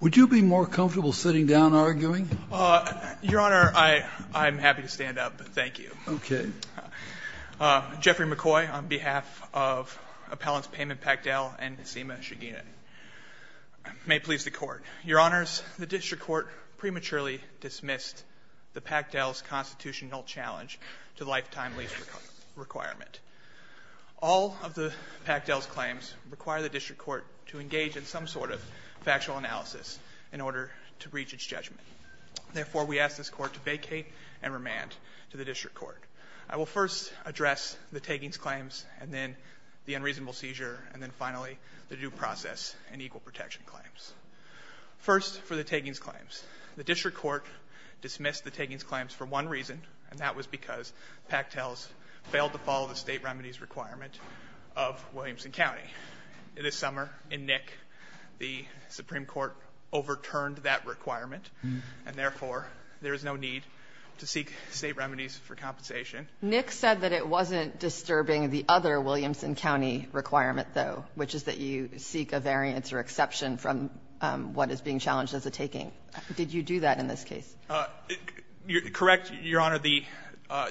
Would you be more comfortable sitting down arguing? Your Honor, I'm happy to stand up. Thank you. Okay. Jeffrey McCoy on behalf of Appellants Payman Pakdel and Seema Chagina. May it please the Court. Your Honors, the District Court prematurely dismissed the Pakdel's constitutional challenge to lifetime lease requirement. All of the Pakdel's claims require the District Court to engage in some sort of factual analysis in order to reach its judgment. Therefore, we ask this Court to vacate and remand to the District Court. I will first address the taggings claims, and then the unreasonable seizure, and then finally the due process and equal protection claims. First, for the taggings claims. The District Court dismissed the taggings claims for one reason, and that was because Pakdel's failed to follow the state remedies requirement of Williamson County. This summer in Nick, the Supreme Court overturned that requirement, and therefore, there is no need to seek state remedies for compensation. Nick said that it wasn't disturbing the other Williamson County requirement, though, which is that you seek a variance or exception from what is being challenged as a tagging. Did you do that in this case? Correct, Your Honor. The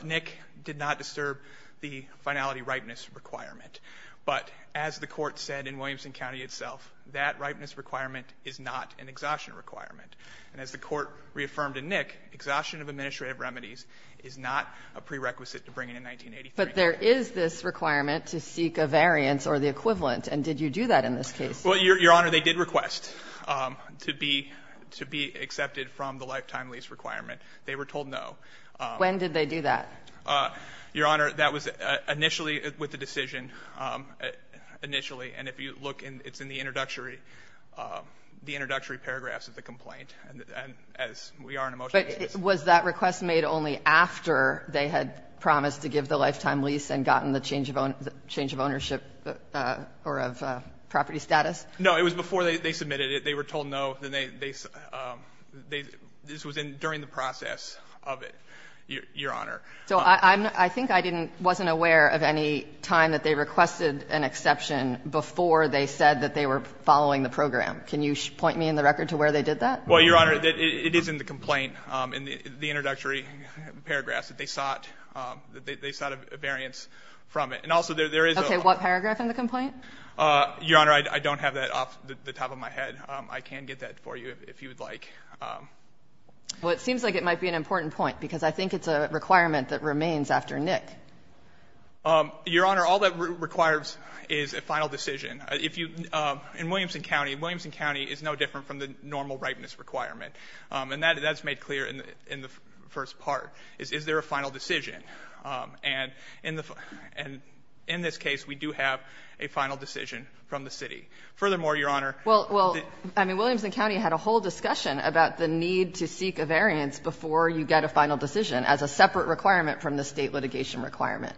Nick did not disturb the finality rightness requirement. But as the Court said in Williamson County itself, that rightness requirement is not an exhaustion requirement. And as the Court reaffirmed in Nick, exhaustion of administrative remedies is not a prerequisite to bringing in 1983. But there is this requirement to seek a variance or the equivalent. And did you do that in this case? Well, Your Honor, they did request to be accepted from the lifetime lease requirement. They were told no. When did they do that? Your Honor, that was initially with the decision, initially. And if you look, it's in the introductory paragraphs of the complaint. And as we are in a motion case. But was that request made only after they had promised to give the lifetime lease and gotten the change of ownership or of property status? No. It was before they submitted it. They were told no. This was during the process of it, Your Honor. So I think I wasn't aware of any time that they requested an exception before they said that they were following the program. Can you point me in the record to where they did that? Well, Your Honor, it is in the complaint, in the introductory paragraphs, that they sought a variance from it. And also there is a ---- Okay. What paragraph in the complaint? Your Honor, I don't have that off the top of my head. I can get that for you if you would like. Well, it seems like it might be an important point, because I think it's a requirement that remains after Nick. Your Honor, all that requires is a final decision. If you ---- In Williamson County, Williamson County is no different from the normal ripeness requirement. And that's made clear in the first part, is there a final decision. And in this case, we do have a final decision from the city. Furthermore, Your Honor ---- Well, I mean, Williamson County had a whole discussion about the need to seek a variance before you get a final decision as a separate requirement from the state litigation requirement.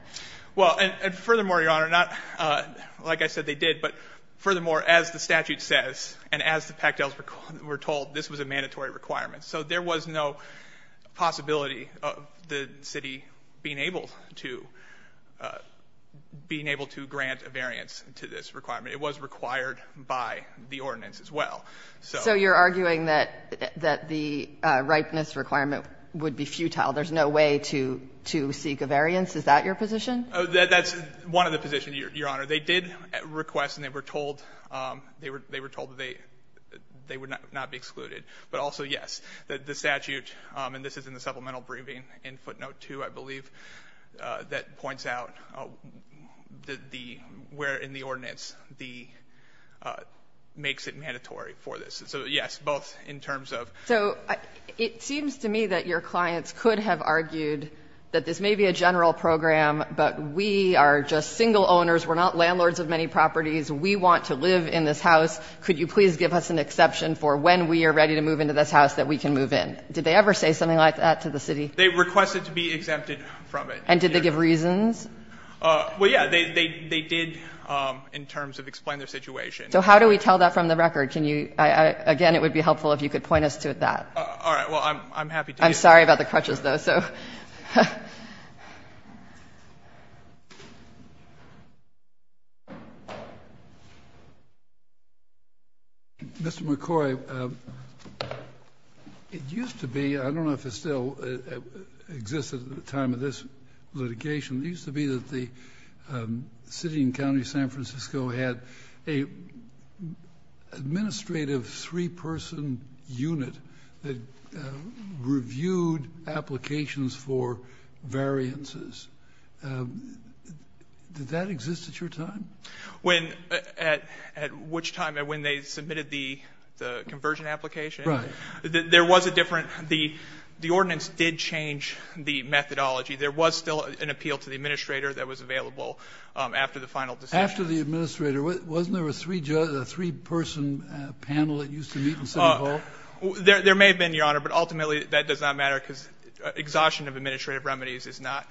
Well, and furthermore, Your Honor, not ---- like I said, they did. But furthermore, as the statute says, and as the Pachtels were told, this was a mandatory requirement. So there was no possibility of the city being able to grant a variance to this requirement. It was required by the ordinance as well. So ---- So you're arguing that the ripeness requirement would be futile. There's no way to seek a variance? Is that your position? That's one of the positions, Your Honor. They did request, and they were told that they would not be excluded. But also, yes, the statute, and this is in the supplemental briefing in footnote 2, I believe, that points out the ---- where in the ordinance the ---- makes it mandatory for this. So, yes, both in terms of ---- So it seems to me that your clients could have argued that this may be a general program, but we are just single owners. We're not landlords of many properties. We want to live in this house. Could you please give us an exception for when we are ready to move into this house that we can move in? Did they ever say something like that to the city? They requested to be exempted from it. And did they give reasons? Well, yes, they did in terms of explain their situation. So how do we tell that from the record? Can you ---- again, it would be helpful if you could point us to that. All right. Well, I'm happy to do that. I'm sorry about the crutches, though, so. Mr. McCoy, it used to be, I don't know if it still exists at the time of this litigation, it used to be that the city and county of San Francisco had an administrative three-person unit that reviewed applications for variances. Did that exist at your time? At which time? When they submitted the conversion application? Right. There was a different ---- the ordinance did change the methodology. There was still an appeal to the administrator that was available after the final decision. But after the administrator, wasn't there a three-person panel that used to meet in City Hall? There may have been, Your Honor, but ultimately that does not matter because exhaustion of administrative remedies is not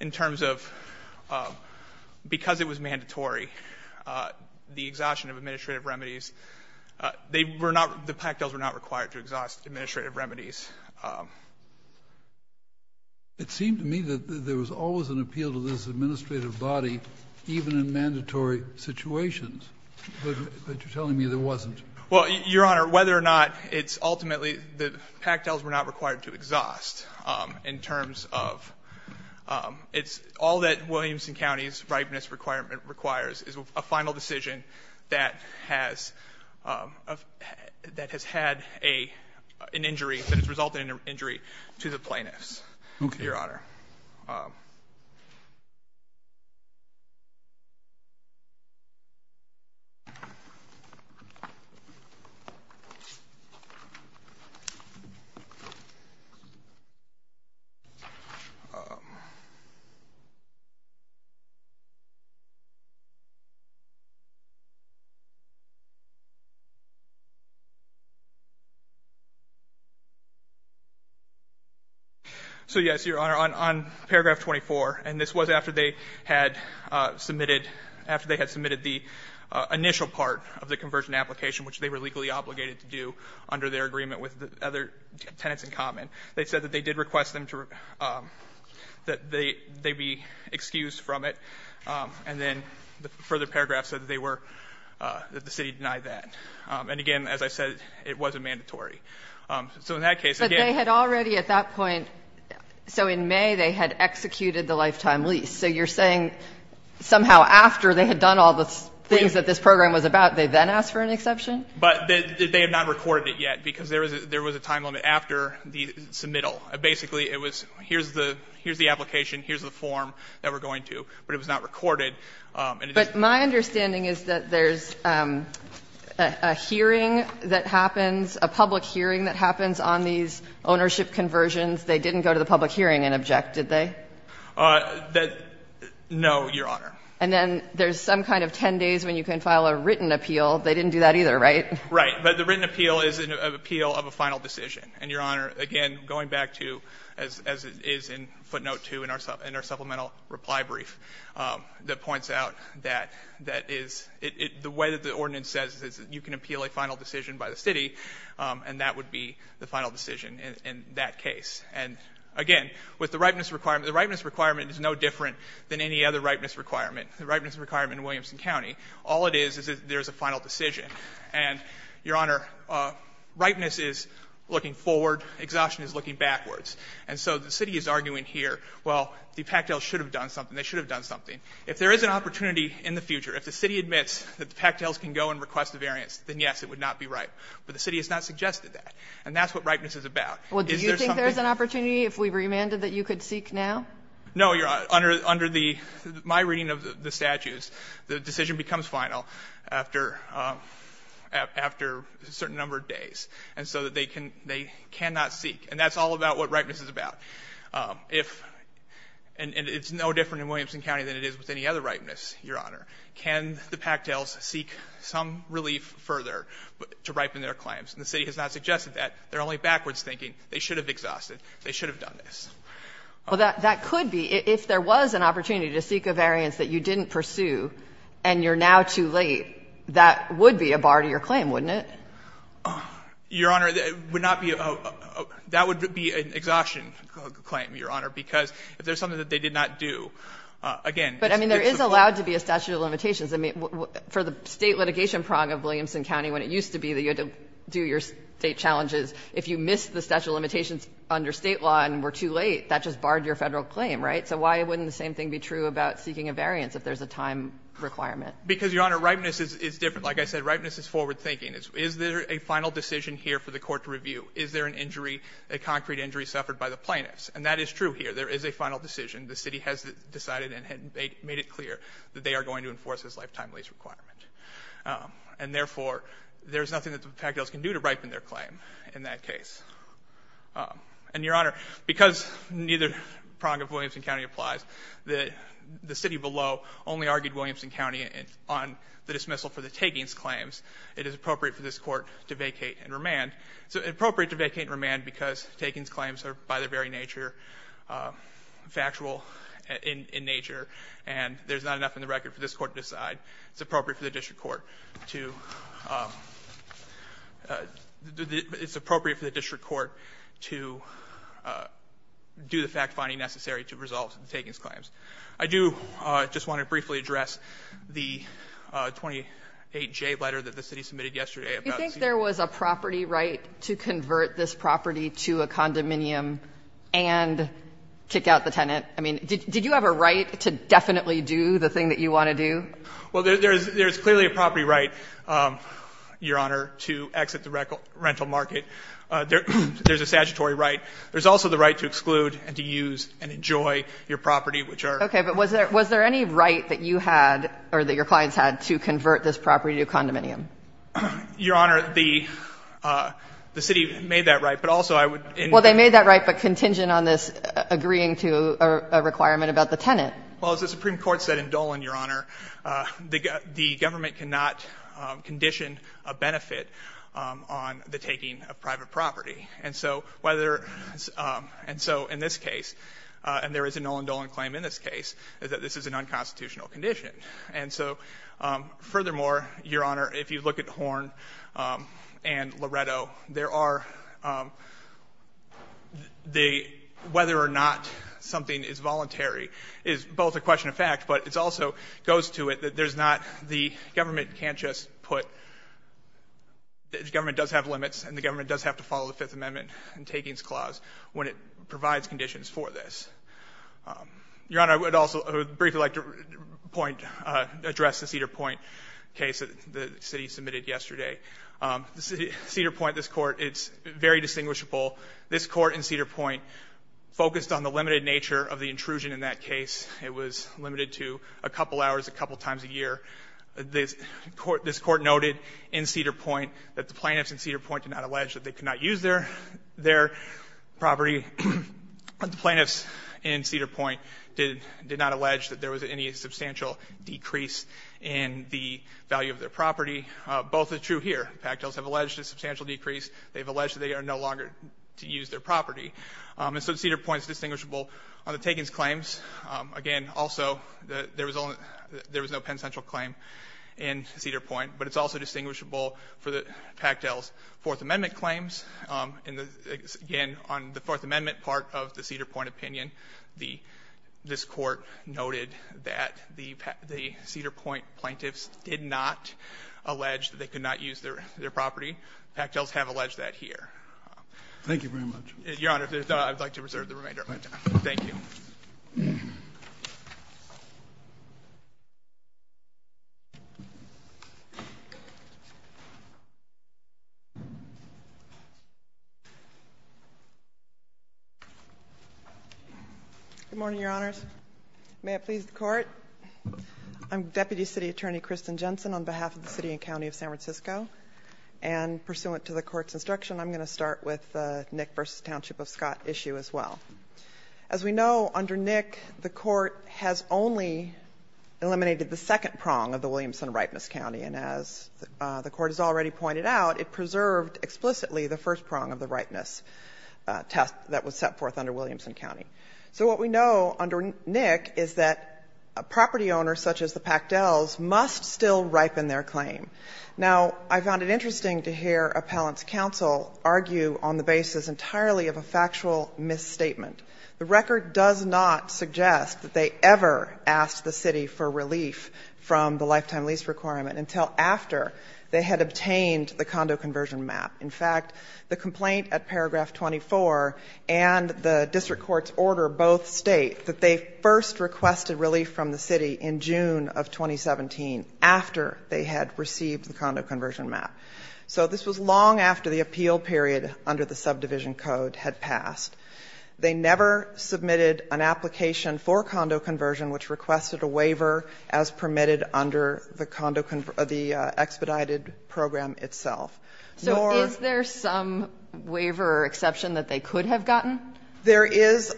in terms of because it was mandatory, the exhaustion of administrative remedies, they were not the pactos were not required to exhaust administrative remedies. It seemed to me that there was always an appeal to this administrative body even in mandatory situations. But you're telling me there wasn't? Well, Your Honor, whether or not it's ultimately the pactos were not required to exhaust in terms of it's all that Williamson County's ripeness requirement requires is a final decision that has had an injury, that has resulted in an injury to the plaintiffs. Okay. Your Honor. So, yes, Your Honor. On paragraph 24, and this was after they had submitted, after they had submitted the initial part of the conversion application, which they were legally obligated to do under their agreement with other tenants in common, they said that they did request them to, that they be excused from it. And then the further paragraph said that they were, that the city denied that. And again, as I said, it wasn't mandatory. So in that case, again. But they had already at that point, so in May they had executed the lifetime lease. So you're saying somehow after they had done all the things that this program was about, they then asked for an exception? But they had not recorded it yet, because there was a time limit after the submittal. Basically, it was here's the application, here's the form that we're going to. But it was not recorded. But my understanding is that there's a hearing that happens, a public hearing that they didn't go to the public hearing and object, did they? No, Your Honor. And then there's some kind of 10 days when you can file a written appeal. They didn't do that either, right? Right. But the written appeal is an appeal of a final decision. And, Your Honor, again, going back to, as it is in footnote 2 in our supplemental reply brief, that points out that that is, the way that the ordinance says is that you can appeal a final decision by the city, and that would be the final decision in that case. And, again, with the ripeness requirement, the ripeness requirement is no different than any other ripeness requirement, the ripeness requirement in Williamson County. All it is is there's a final decision. And, Your Honor, ripeness is looking forward, exhaustion is looking backwards. And so the city is arguing here, well, the Pactels should have done something, they should have done something. If there is an opportunity in the future, if the city admits that the Pactels can go and request a variance, then, yes, it would not be right. But the city has not suggested that. And that's what ripeness is about. Is there something? Well, do you think there's an opportunity if we remanded that you could seek now? No, Your Honor. Under my reading of the statutes, the decision becomes final after a certain number of days. And so they cannot seek. And that's all about what ripeness is about. And it's no different in Williamson County than it is with any other ripeness, Your Honor. Can the Pactels seek some relief further to ripen their claims? And the city has not suggested that. They're only backwards thinking they should have exhausted, they should have done this. Well, that could be. If there was an opportunity to seek a variance that you didn't pursue and you're now too late, that would be a bar to your claim, wouldn't it? Your Honor, it would not be a bar. That would be an exhaustion claim, Your Honor, because if there's something that they did not do, again, it's a bar. But, I mean, there is allowed to be a statute of limitations. I mean, for the State litigation prong of Williamson County, when it used to be that you had to do your State challenges, if you missed the statute of limitations under State law and were too late, that just barred your Federal claim, right? So why wouldn't the same thing be true about seeking a variance if there's a time requirement? Because, Your Honor, ripeness is different. Like I said, ripeness is forward thinking. Is there a final decision here for the court to review? Is there an injury, a concrete injury suffered by the plaintiffs? And that is true here. There is a final decision. The city has decided and made it clear that they are going to enforce this lifetime lease requirement. And, therefore, there is nothing that the Pataglios can do to ripen their claim in that case. And, Your Honor, because neither prong of Williamson County applies, the city below only argued Williamson County on the dismissal for the Takings claims. It is appropriate for this Court to vacate and remand. It's appropriate to vacate and remand because Takings claims are, by their very nature, factual in nature, and there's not enough in the record for this Court to decide. It's appropriate for the district court to do the fact-finding necessary to resolve the Takings claims. I do just want to briefly address the 28J letter that the city submitted yesterday about the city's claim. You think there was a property right to convert this property to a condominium and kick out the tenant? I mean, did you have a right to definitely do the thing that you want to do? Well, there's clearly a property right, Your Honor, to exit the rental market. There's a statutory right. There's also the right to exclude and to use and enjoy your property, which are. Okay. But was there any right that you had or that your clients had to convert this property to a condominium? Your Honor, the city made that right, but also I would. Well, they made that right, but contingent on this agreeing to a requirement about the tenant. Well, as the Supreme Court said in Dolan, Your Honor, the government cannot condition a benefit on the taking of private property. And so in this case, and there is a Nolan Dolan claim in this case, is that this is an unconstitutional condition. And so furthermore, Your Honor, if you look at Horn and Loretto, there are the whether or not something is voluntary is both a question of fact, but it also goes to it that there's not the government can't just put, the government does have limits and the government does have to follow the Fifth Amendment and Takings Clause when it provides conditions for this. Your Honor, I would also briefly like to point, address the Cedar Point case that the city submitted yesterday. Cedar Point, this Court, it's very distinguishable. This Court in Cedar Point focused on the limited nature of the intrusion in that case. It was limited to a couple hours a couple times a year. This Court noted in Cedar Point that the plaintiffs in Cedar Point did not allege that they could not use their property. The plaintiffs in Cedar Point did not allege that there was any substantial decrease in the value of their property. Both are true here. The Pactell's have alleged a substantial decrease. They've alleged that they are no longer to use their property. And so Cedar Point is distinguishable on the Takings claims. Again, also, there was no penitential claim in Cedar Point, but it's also distinguishable for the Pactell's Fourth Amendment claims. Again, on the Fourth Amendment part of the Cedar Point opinion, this Court noted that the Cedar Point plaintiffs did not allege that they could not use their property. Pactell's have alleged that here. Thank you very much. Your Honor, I would like to reserve the remainder of my time. Thank you. Good morning, Your Honors. May it please the Court. I'm Deputy City Attorney Kristen Jensen on behalf of the City and County of San Francisco. And pursuant to the Court's instruction, I'm going to start with the Nick v. Township of Scott issue as well. As we know, under Nick, the Court has only eliminated the second prong of the Williamson ripeness county. And as the Court has already pointed out, it preserved explicitly the first prong of the ripeness test that was set forth under Williamson County. So what we know under Nick is that a property owner such as the Pactell's must still ripen their claim. Now, I found it interesting to hear Appellant's counsel argue on the basis entirely of a factual misstatement. The record does not suggest that they ever asked the City for relief from the lifetime lease requirement until after they had obtained the condo conversion map. In fact, the complaint at paragraph 24 and the district court's order both state that they first requested relief from the City in June of 2017 after they had received the condo conversion map. So this was long after the appeal period under the subdivision code had passed. They never submitted an application for condo conversion which requested a waiver as permitted under the condo conv the expedited program itself, nor. So is there some waiver exception that they could have gotten? There is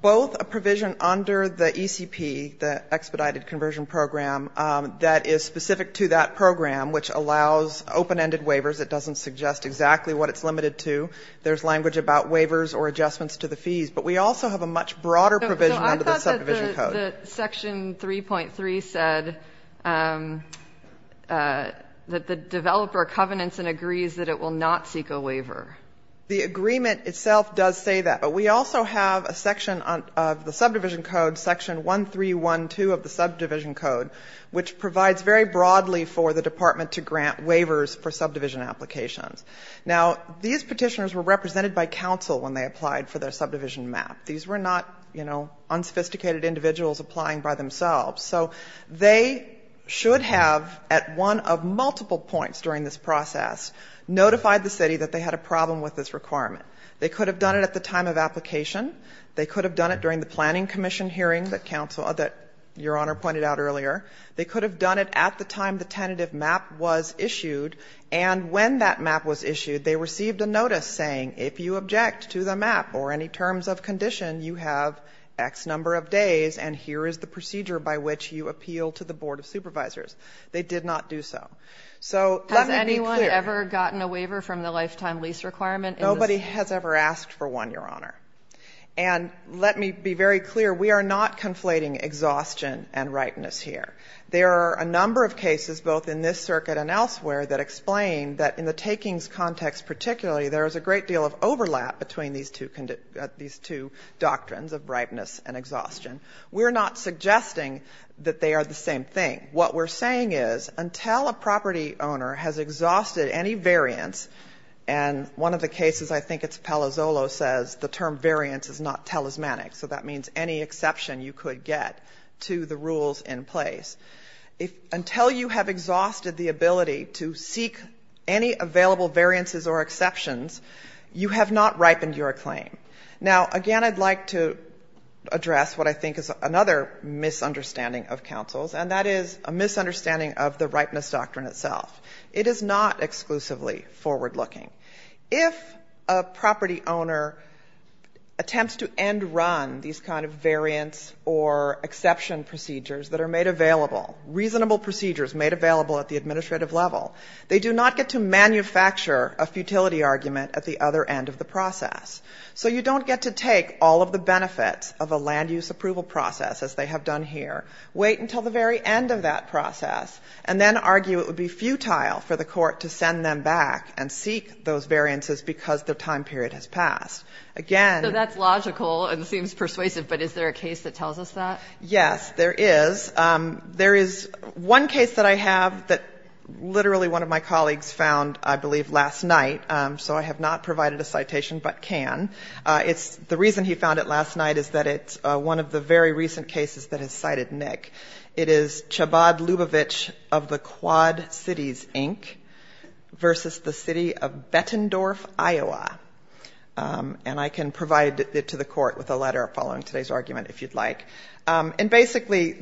both a provision under the ECP, the expedited conversion program, that is specific to that program which allows open-ended waivers. It doesn't suggest exactly what it's limited to. There's language about waivers or adjustments to the fees. But we also have a much broader provision under the subdivision code. So I thought that the section 3.3 said that the developer covenants and agrees that it will not seek a waiver. The agreement itself does say that. But we also have a section of the subdivision code, section 1312 of the subdivision code, which provides very broadly for the department to grant waivers for subdivision applications. Now, these petitioners were represented by counsel when they applied for their subdivision map. These were not, you know, unsophisticated individuals applying by themselves. So they should have, at one of multiple points during this process, notified the City that they had a problem with this requirement. They could have done it at the time of application. They could have done it during the planning commission hearing that counsel pointed out earlier. They could have done it at the time the tentative map was issued. And when that map was issued, they received a notice saying if you object to the map or any terms of condition, you have X number of days and here is the procedure by which you appeal to the board of supervisors. They did not do so. So let me be clear. Has anyone ever gotten a waiver from the lifetime lease requirement? Nobody has ever asked for one, Your Honor. And let me be very clear. We are not conflating exhaustion and ripeness here. There are a number of cases, both in this circuit and elsewhere, that explain that in the takings context particularly, there is a great deal of overlap between these two doctrines of ripeness and exhaustion. We're not suggesting that they are the same thing. What we're saying is until a property owner has exhausted any variance, and one of the cases I think it's Palazzolo says the term variance is not talismanic, so that means any exception you could get to the rules in place. Until you have exhausted the ability to seek any available variances or exceptions, you have not ripened your claim. Now, again, I'd like to address what I think is another misunderstanding of counsels, and that is a misunderstanding of the ripeness doctrine itself. It is not exclusively forward-looking. If a property owner attempts to end-run these kind of variance or exception procedures that are made available, reasonable procedures made available at the administrative level, they do not get to manufacture a futility argument at the other end of the process. So you don't get to take all of the benefits of a land-use approval process, as they have done here, wait until the very end of that process, and then argue it would be futile for the court to send them back and seek those variances because the time period has passed. Again ---- So that's logical and seems persuasive, but is there a case that tells us that? Yes, there is. There is one case that I have that literally one of my colleagues found, I believe, last night. So I have not provided a citation, but can. It's the reason he found it last night is that it's one of the very recent cases that has cited Nick. It is Chabad-Lubovitch of the Quad Cities, Inc., versus the city of Bettendorf, Iowa. And I can provide it to the court with a letter following today's argument, if you'd like. And basically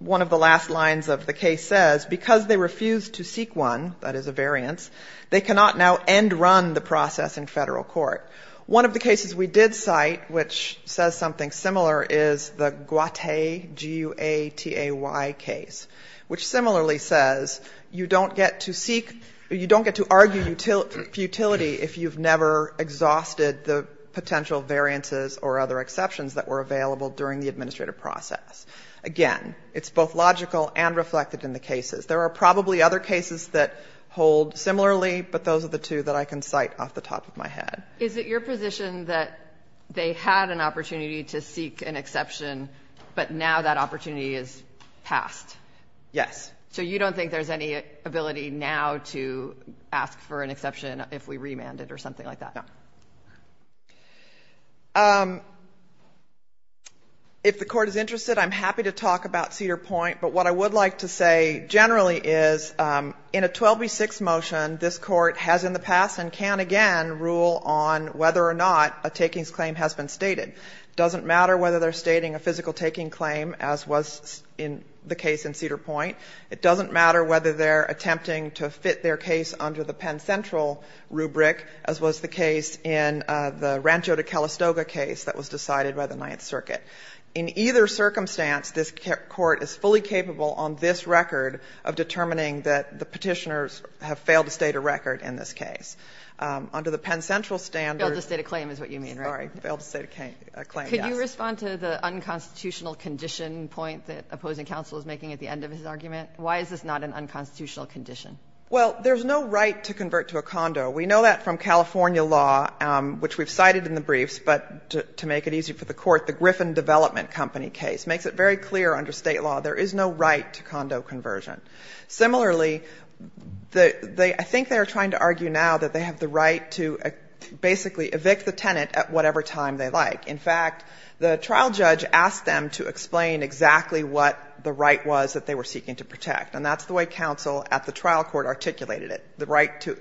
one of the last lines of the case says, because they refused to seek one, that is a variance, they cannot now end-run the process in federal court. One of the cases we did cite, which says something similar, is the Guate, G-U-A-T-A-Y case, which similarly says you don't get to seek or you don't get to argue futility if you've never exhausted the potential variances or other exceptions that were available during the administrative process. Again, it's both logical and reflected in the cases. There are probably other cases that hold similarly, but those are the two that I can cite off the top of my head. Is it your position that they had an opportunity to seek an exception, but now that opportunity is passed? Yes. So you don't think there's any ability now to ask for an exception if we remand it or something like that? No. If the Court is interested, I'm happy to talk about Cedar Point. But what I would like to say generally is, in a 12b-6 motion, this Court has in the case in Cedar Point, it doesn't matter whether they're attempting to fit their case under the Penn Central rubric, as was the case in the Rancho de Calistoga case that was decided by the Ninth Circuit. In either circumstance, this Court is fully capable on this record of determining that the Petitioners have failed to state a record in this case. Under the Penn Central standard. Failed to state a claim is what you mean, right? Sorry. Failed to state a claim, yes. Could you respond to the unconstitutional condition point that opposing counsel is making at the end of his argument? Why is this not an unconstitutional condition? Well, there's no right to convert to a condo. We know that from California law, which we've cited in the briefs, but to make it easy for the Court, the Griffin Development Company case makes it very clear under State law there is no right to condo conversion. Similarly, I think they are trying to argue now that they have the right to basically evict the tenant at whatever time they like. In fact, the trial judge asked them to explain exactly what the right was that they were seeking to protect, and that's the way counsel at the trial court articulated it, the right to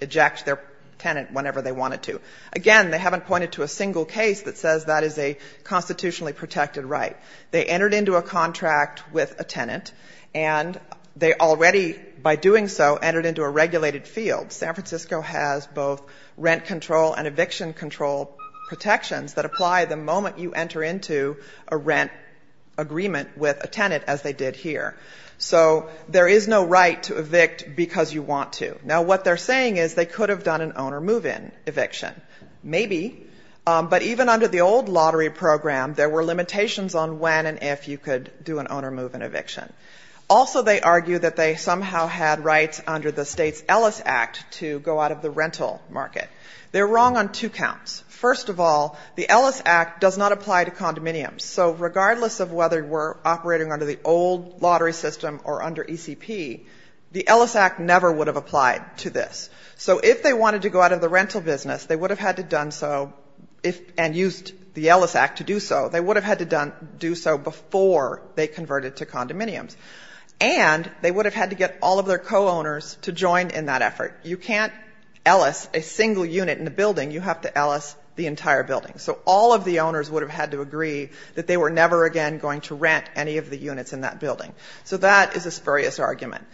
eject their tenant whenever they wanted to. Again, they haven't pointed to a single case that says that is a constitutionally protected right. They entered into a contract with a tenant, and they already, by doing so, entered into a regulated field. San Francisco has both rent control and eviction control protections that apply the moment you enter into a rent agreement with a tenant, as they did here. So there is no right to evict because you want to. Now, what they're saying is they could have done an owner move-in eviction. Maybe. But even under the old lottery program, there were limitations on when and if you could do an owner move-in eviction. Also, they argue that they somehow had rights under the State's Ellis Act to go out of the rental market. They're wrong on two counts. First of all, the Ellis Act does not apply to condominiums. So regardless of whether we're operating under the old lottery system or under ECP, the Ellis Act never would have applied to this. So if they wanted to go out of the rental business, they would have had to done so and used the Ellis Act to do so. They would have had to do so before they converted to condominiums. And they would have had to get all of their co-owners to join in that effort. You can't Ellis a single unit in a building. You have to Ellis the entire building. So all of the owners would have had to agree that they were never again going to rent any of the units in that building. So that is a spurious argument.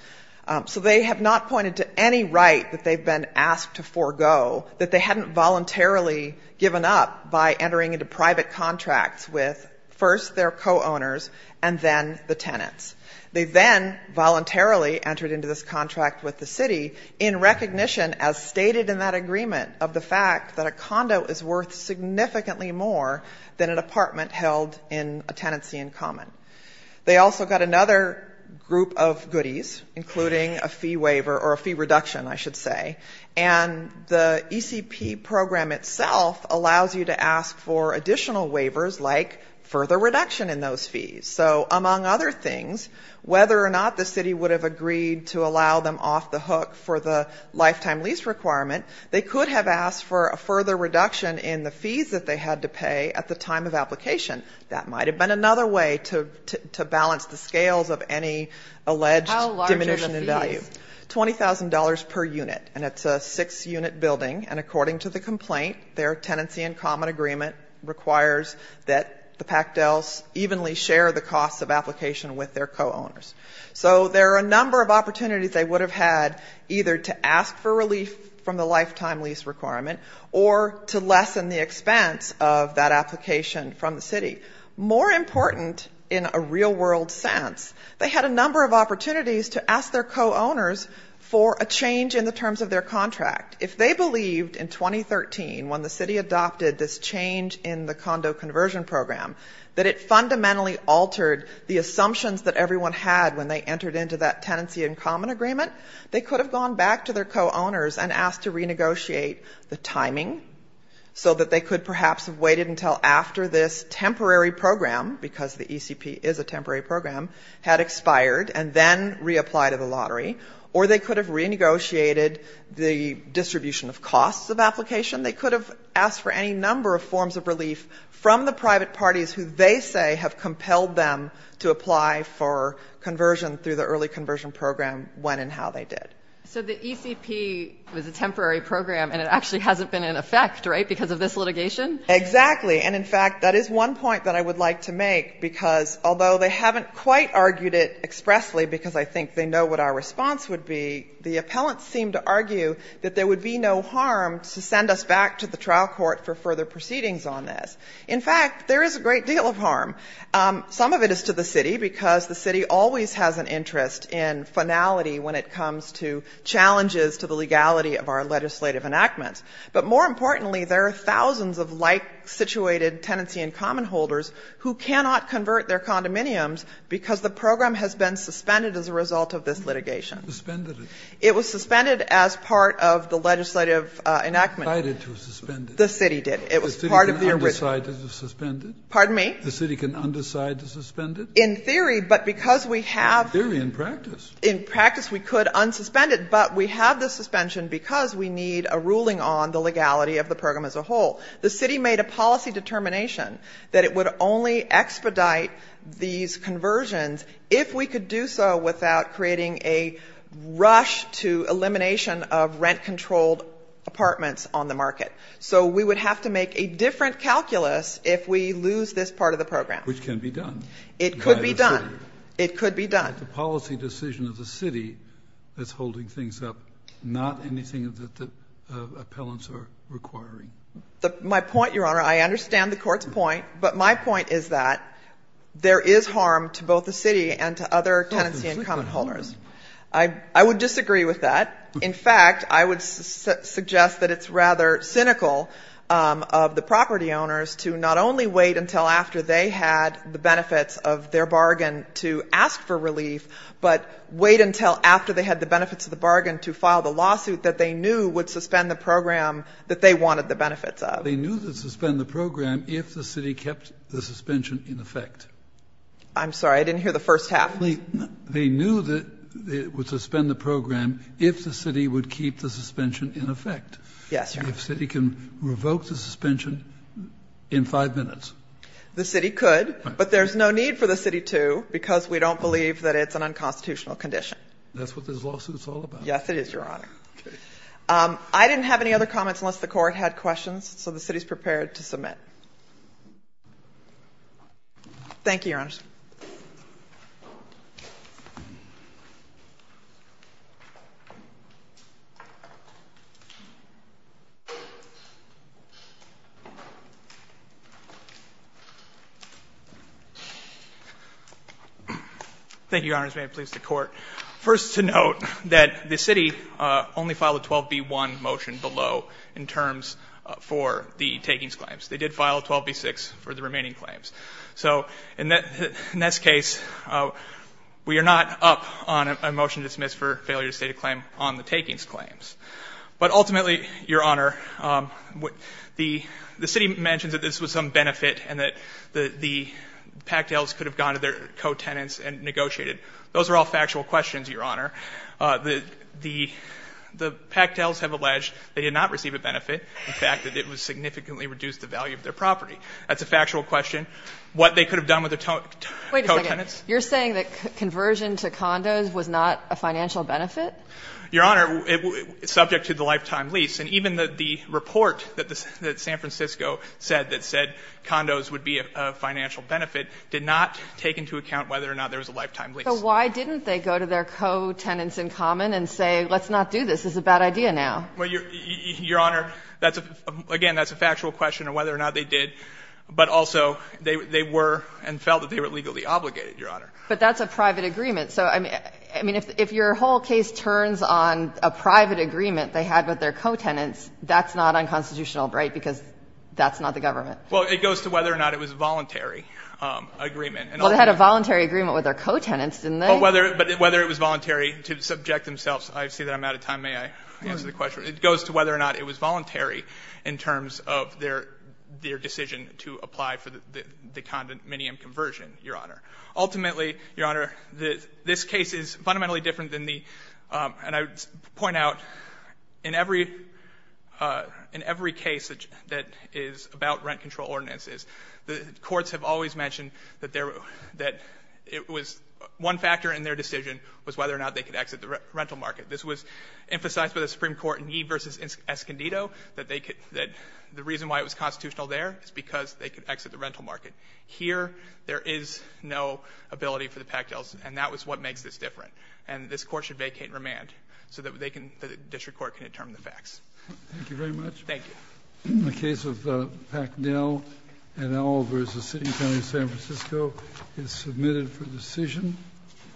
So they have not pointed to any right that they've been asked to forego that they hadn't voluntarily given up by entering into private contracts with first their co-owners and then the tenants. They then voluntarily entered into this contract with the city in recognition, as stated in that agreement, of the fact that a condo is worth significantly more than an apartment held in a tenancy in common. They also got another group of goodies, including a fee waiver, or a fee reduction, I should say. And the ECP program itself allows you to ask for additional waivers, like further reduction in those fees. So among other things, whether or not the city would have agreed to allow them off the hook for the lifetime lease requirement, they could have asked for a further reduction in the fees that they had to pay at the time of application. That might have been another way to balance the scales of any alleged diminution How large are the fees? $20,000 per unit. And it's a six-unit building. And according to the complaint, their tenancy in common agreement requires that the Pachtels evenly share the costs of application with their co-owners. So there are a number of opportunities they would have had either to ask for relief from the lifetime lease requirement or to lessen the expense of that application from the city. More important in a real-world sense, they had a number of opportunities to ask their co-owners for a change in the terms of their contract. If they believed in 2013, when the city adopted this change in the condo conversion program, that it fundamentally altered the assumptions that everyone had when they entered into that tenancy in common agreement, they could have gone back to their co-owners and asked to renegotiate the timing so that they could perhaps have waited until after this temporary program, because the ECP is a temporary program, had expired, and then reapplied to the lottery. Or they could have renegotiated the distribution of costs of application. They could have asked for any number of forms of relief from the private parties who they say have compelled them to apply for conversion through the early conversion program when and how they did. So the ECP was a temporary program, and it actually hasn't been in effect, right, because of this litigation? Exactly. And in fact, that is one point that I would like to make, because although they haven't quite argued it expressly, because I think they know what our response would be, the appellants seem to argue that there would be no harm to send us back to the trial court for further proceedings on this. In fact, there is a great deal of harm. Some of it is to the city, because the city always has an interest in finality when it comes to challenges to the legality of our legislative enactments. But more importantly, there are thousands of like-situated tenancy and common holders who cannot convert their condominiums because the program has been suspended as a result of this litigation. Suspended it. It was suspended as part of the legislative enactment. Decided to suspend it. The city did. It was part of the original. The city can undecide to suspend it? Pardon me? The city can undecide to suspend it? In theory, but because we have to. In theory, in practice. In practice, we could unsuspend it. But we have the suspension because we need a ruling on the legality of the program as a whole. The city made a policy determination that it would only expedite these conversions if we could do so without creating a rush to elimination of rent-controlled apartments on the market. So we would have to make a different calculus if we lose this part of the program. Which can be done. It could be done. By the city. It could be done. The policy decision of the city is holding things up. Not anything that the appellants are requiring. My point, Your Honor, I understand the court's point. But my point is that there is harm to both the city and to other tenancy income holders. I would disagree with that. In fact, I would suggest that it's rather cynical of the property owners to not only wait until after they had the benefits of their bargain to ask for relief, but wait until after they had the benefits of the bargain to file the lawsuit that they knew would suspend the program that they wanted the benefits of. They knew it would suspend the program if the city kept the suspension in effect. I'm sorry. I didn't hear the first half. They knew that it would suspend the program if the city would keep the suspension in effect. Yes, Your Honor. If the city can revoke the suspension in five minutes. The city could, but there's no need for the city to, because we don't believe that it's an unconstitutional condition. That's what this lawsuit's all about. Yes, it is, Your Honor. Okay. I didn't have any other comments unless the court had questions, so the city's prepared to submit. Thank you, Your Honor. Thank you, Your Honor. May it please the Court. First to note that the city only filed a 12b-1 motion below in terms for the takings claims. They did file a 12b-6 for the remaining claims. So in this case, we are not up on a motion to dismiss for failure to state a claim The city mentions that this was some benefit and that the Pactels could have gone to their co-tenants and negotiated. Those are all factual questions, Your Honor. The Pactels have alleged they did not receive a benefit. In fact, that it would significantly reduce the value of their property. That's a factual question. What they could have done with their co-tenants. Wait a second. You're saying that conversion to condos was not a financial benefit? Your Honor, subject to the lifetime lease. And even the report that San Francisco said that said condos would be a financial benefit did not take into account whether or not there was a lifetime lease. So why didn't they go to their co-tenants in common and say let's not do this, this is a bad idea now? Your Honor, again, that's a factual question on whether or not they did. But also, they were and felt that they were legally obligated, Your Honor. But that's a private agreement. So, I mean, if your whole case turns on a private agreement they had with their co-tenants, that's not unconstitutional, right, because that's not the government. Well, it goes to whether or not it was a voluntary agreement. Well, they had a voluntary agreement with their co-tenants, didn't they? But whether it was voluntary to subject themselves. I see that I'm out of time. May I answer the question? It goes to whether or not it was voluntary in terms of their decision to apply for the condominium conversion, Your Honor. Ultimately, Your Honor, this case is fundamentally different than the, and I would argue in every case that is about rent control ordinances. The courts have always mentioned that it was one factor in their decision was whether or not they could exit the rental market. This was emphasized by the Supreme Court in Yee v. Escondido, that they could, that the reason why it was constitutional there is because they could exit the rental market. Here, there is no ability for the pactels, and that was what makes this different. Thank you very much. Thank you. The case of Pactel v. City and County of San Francisco is submitted for decision.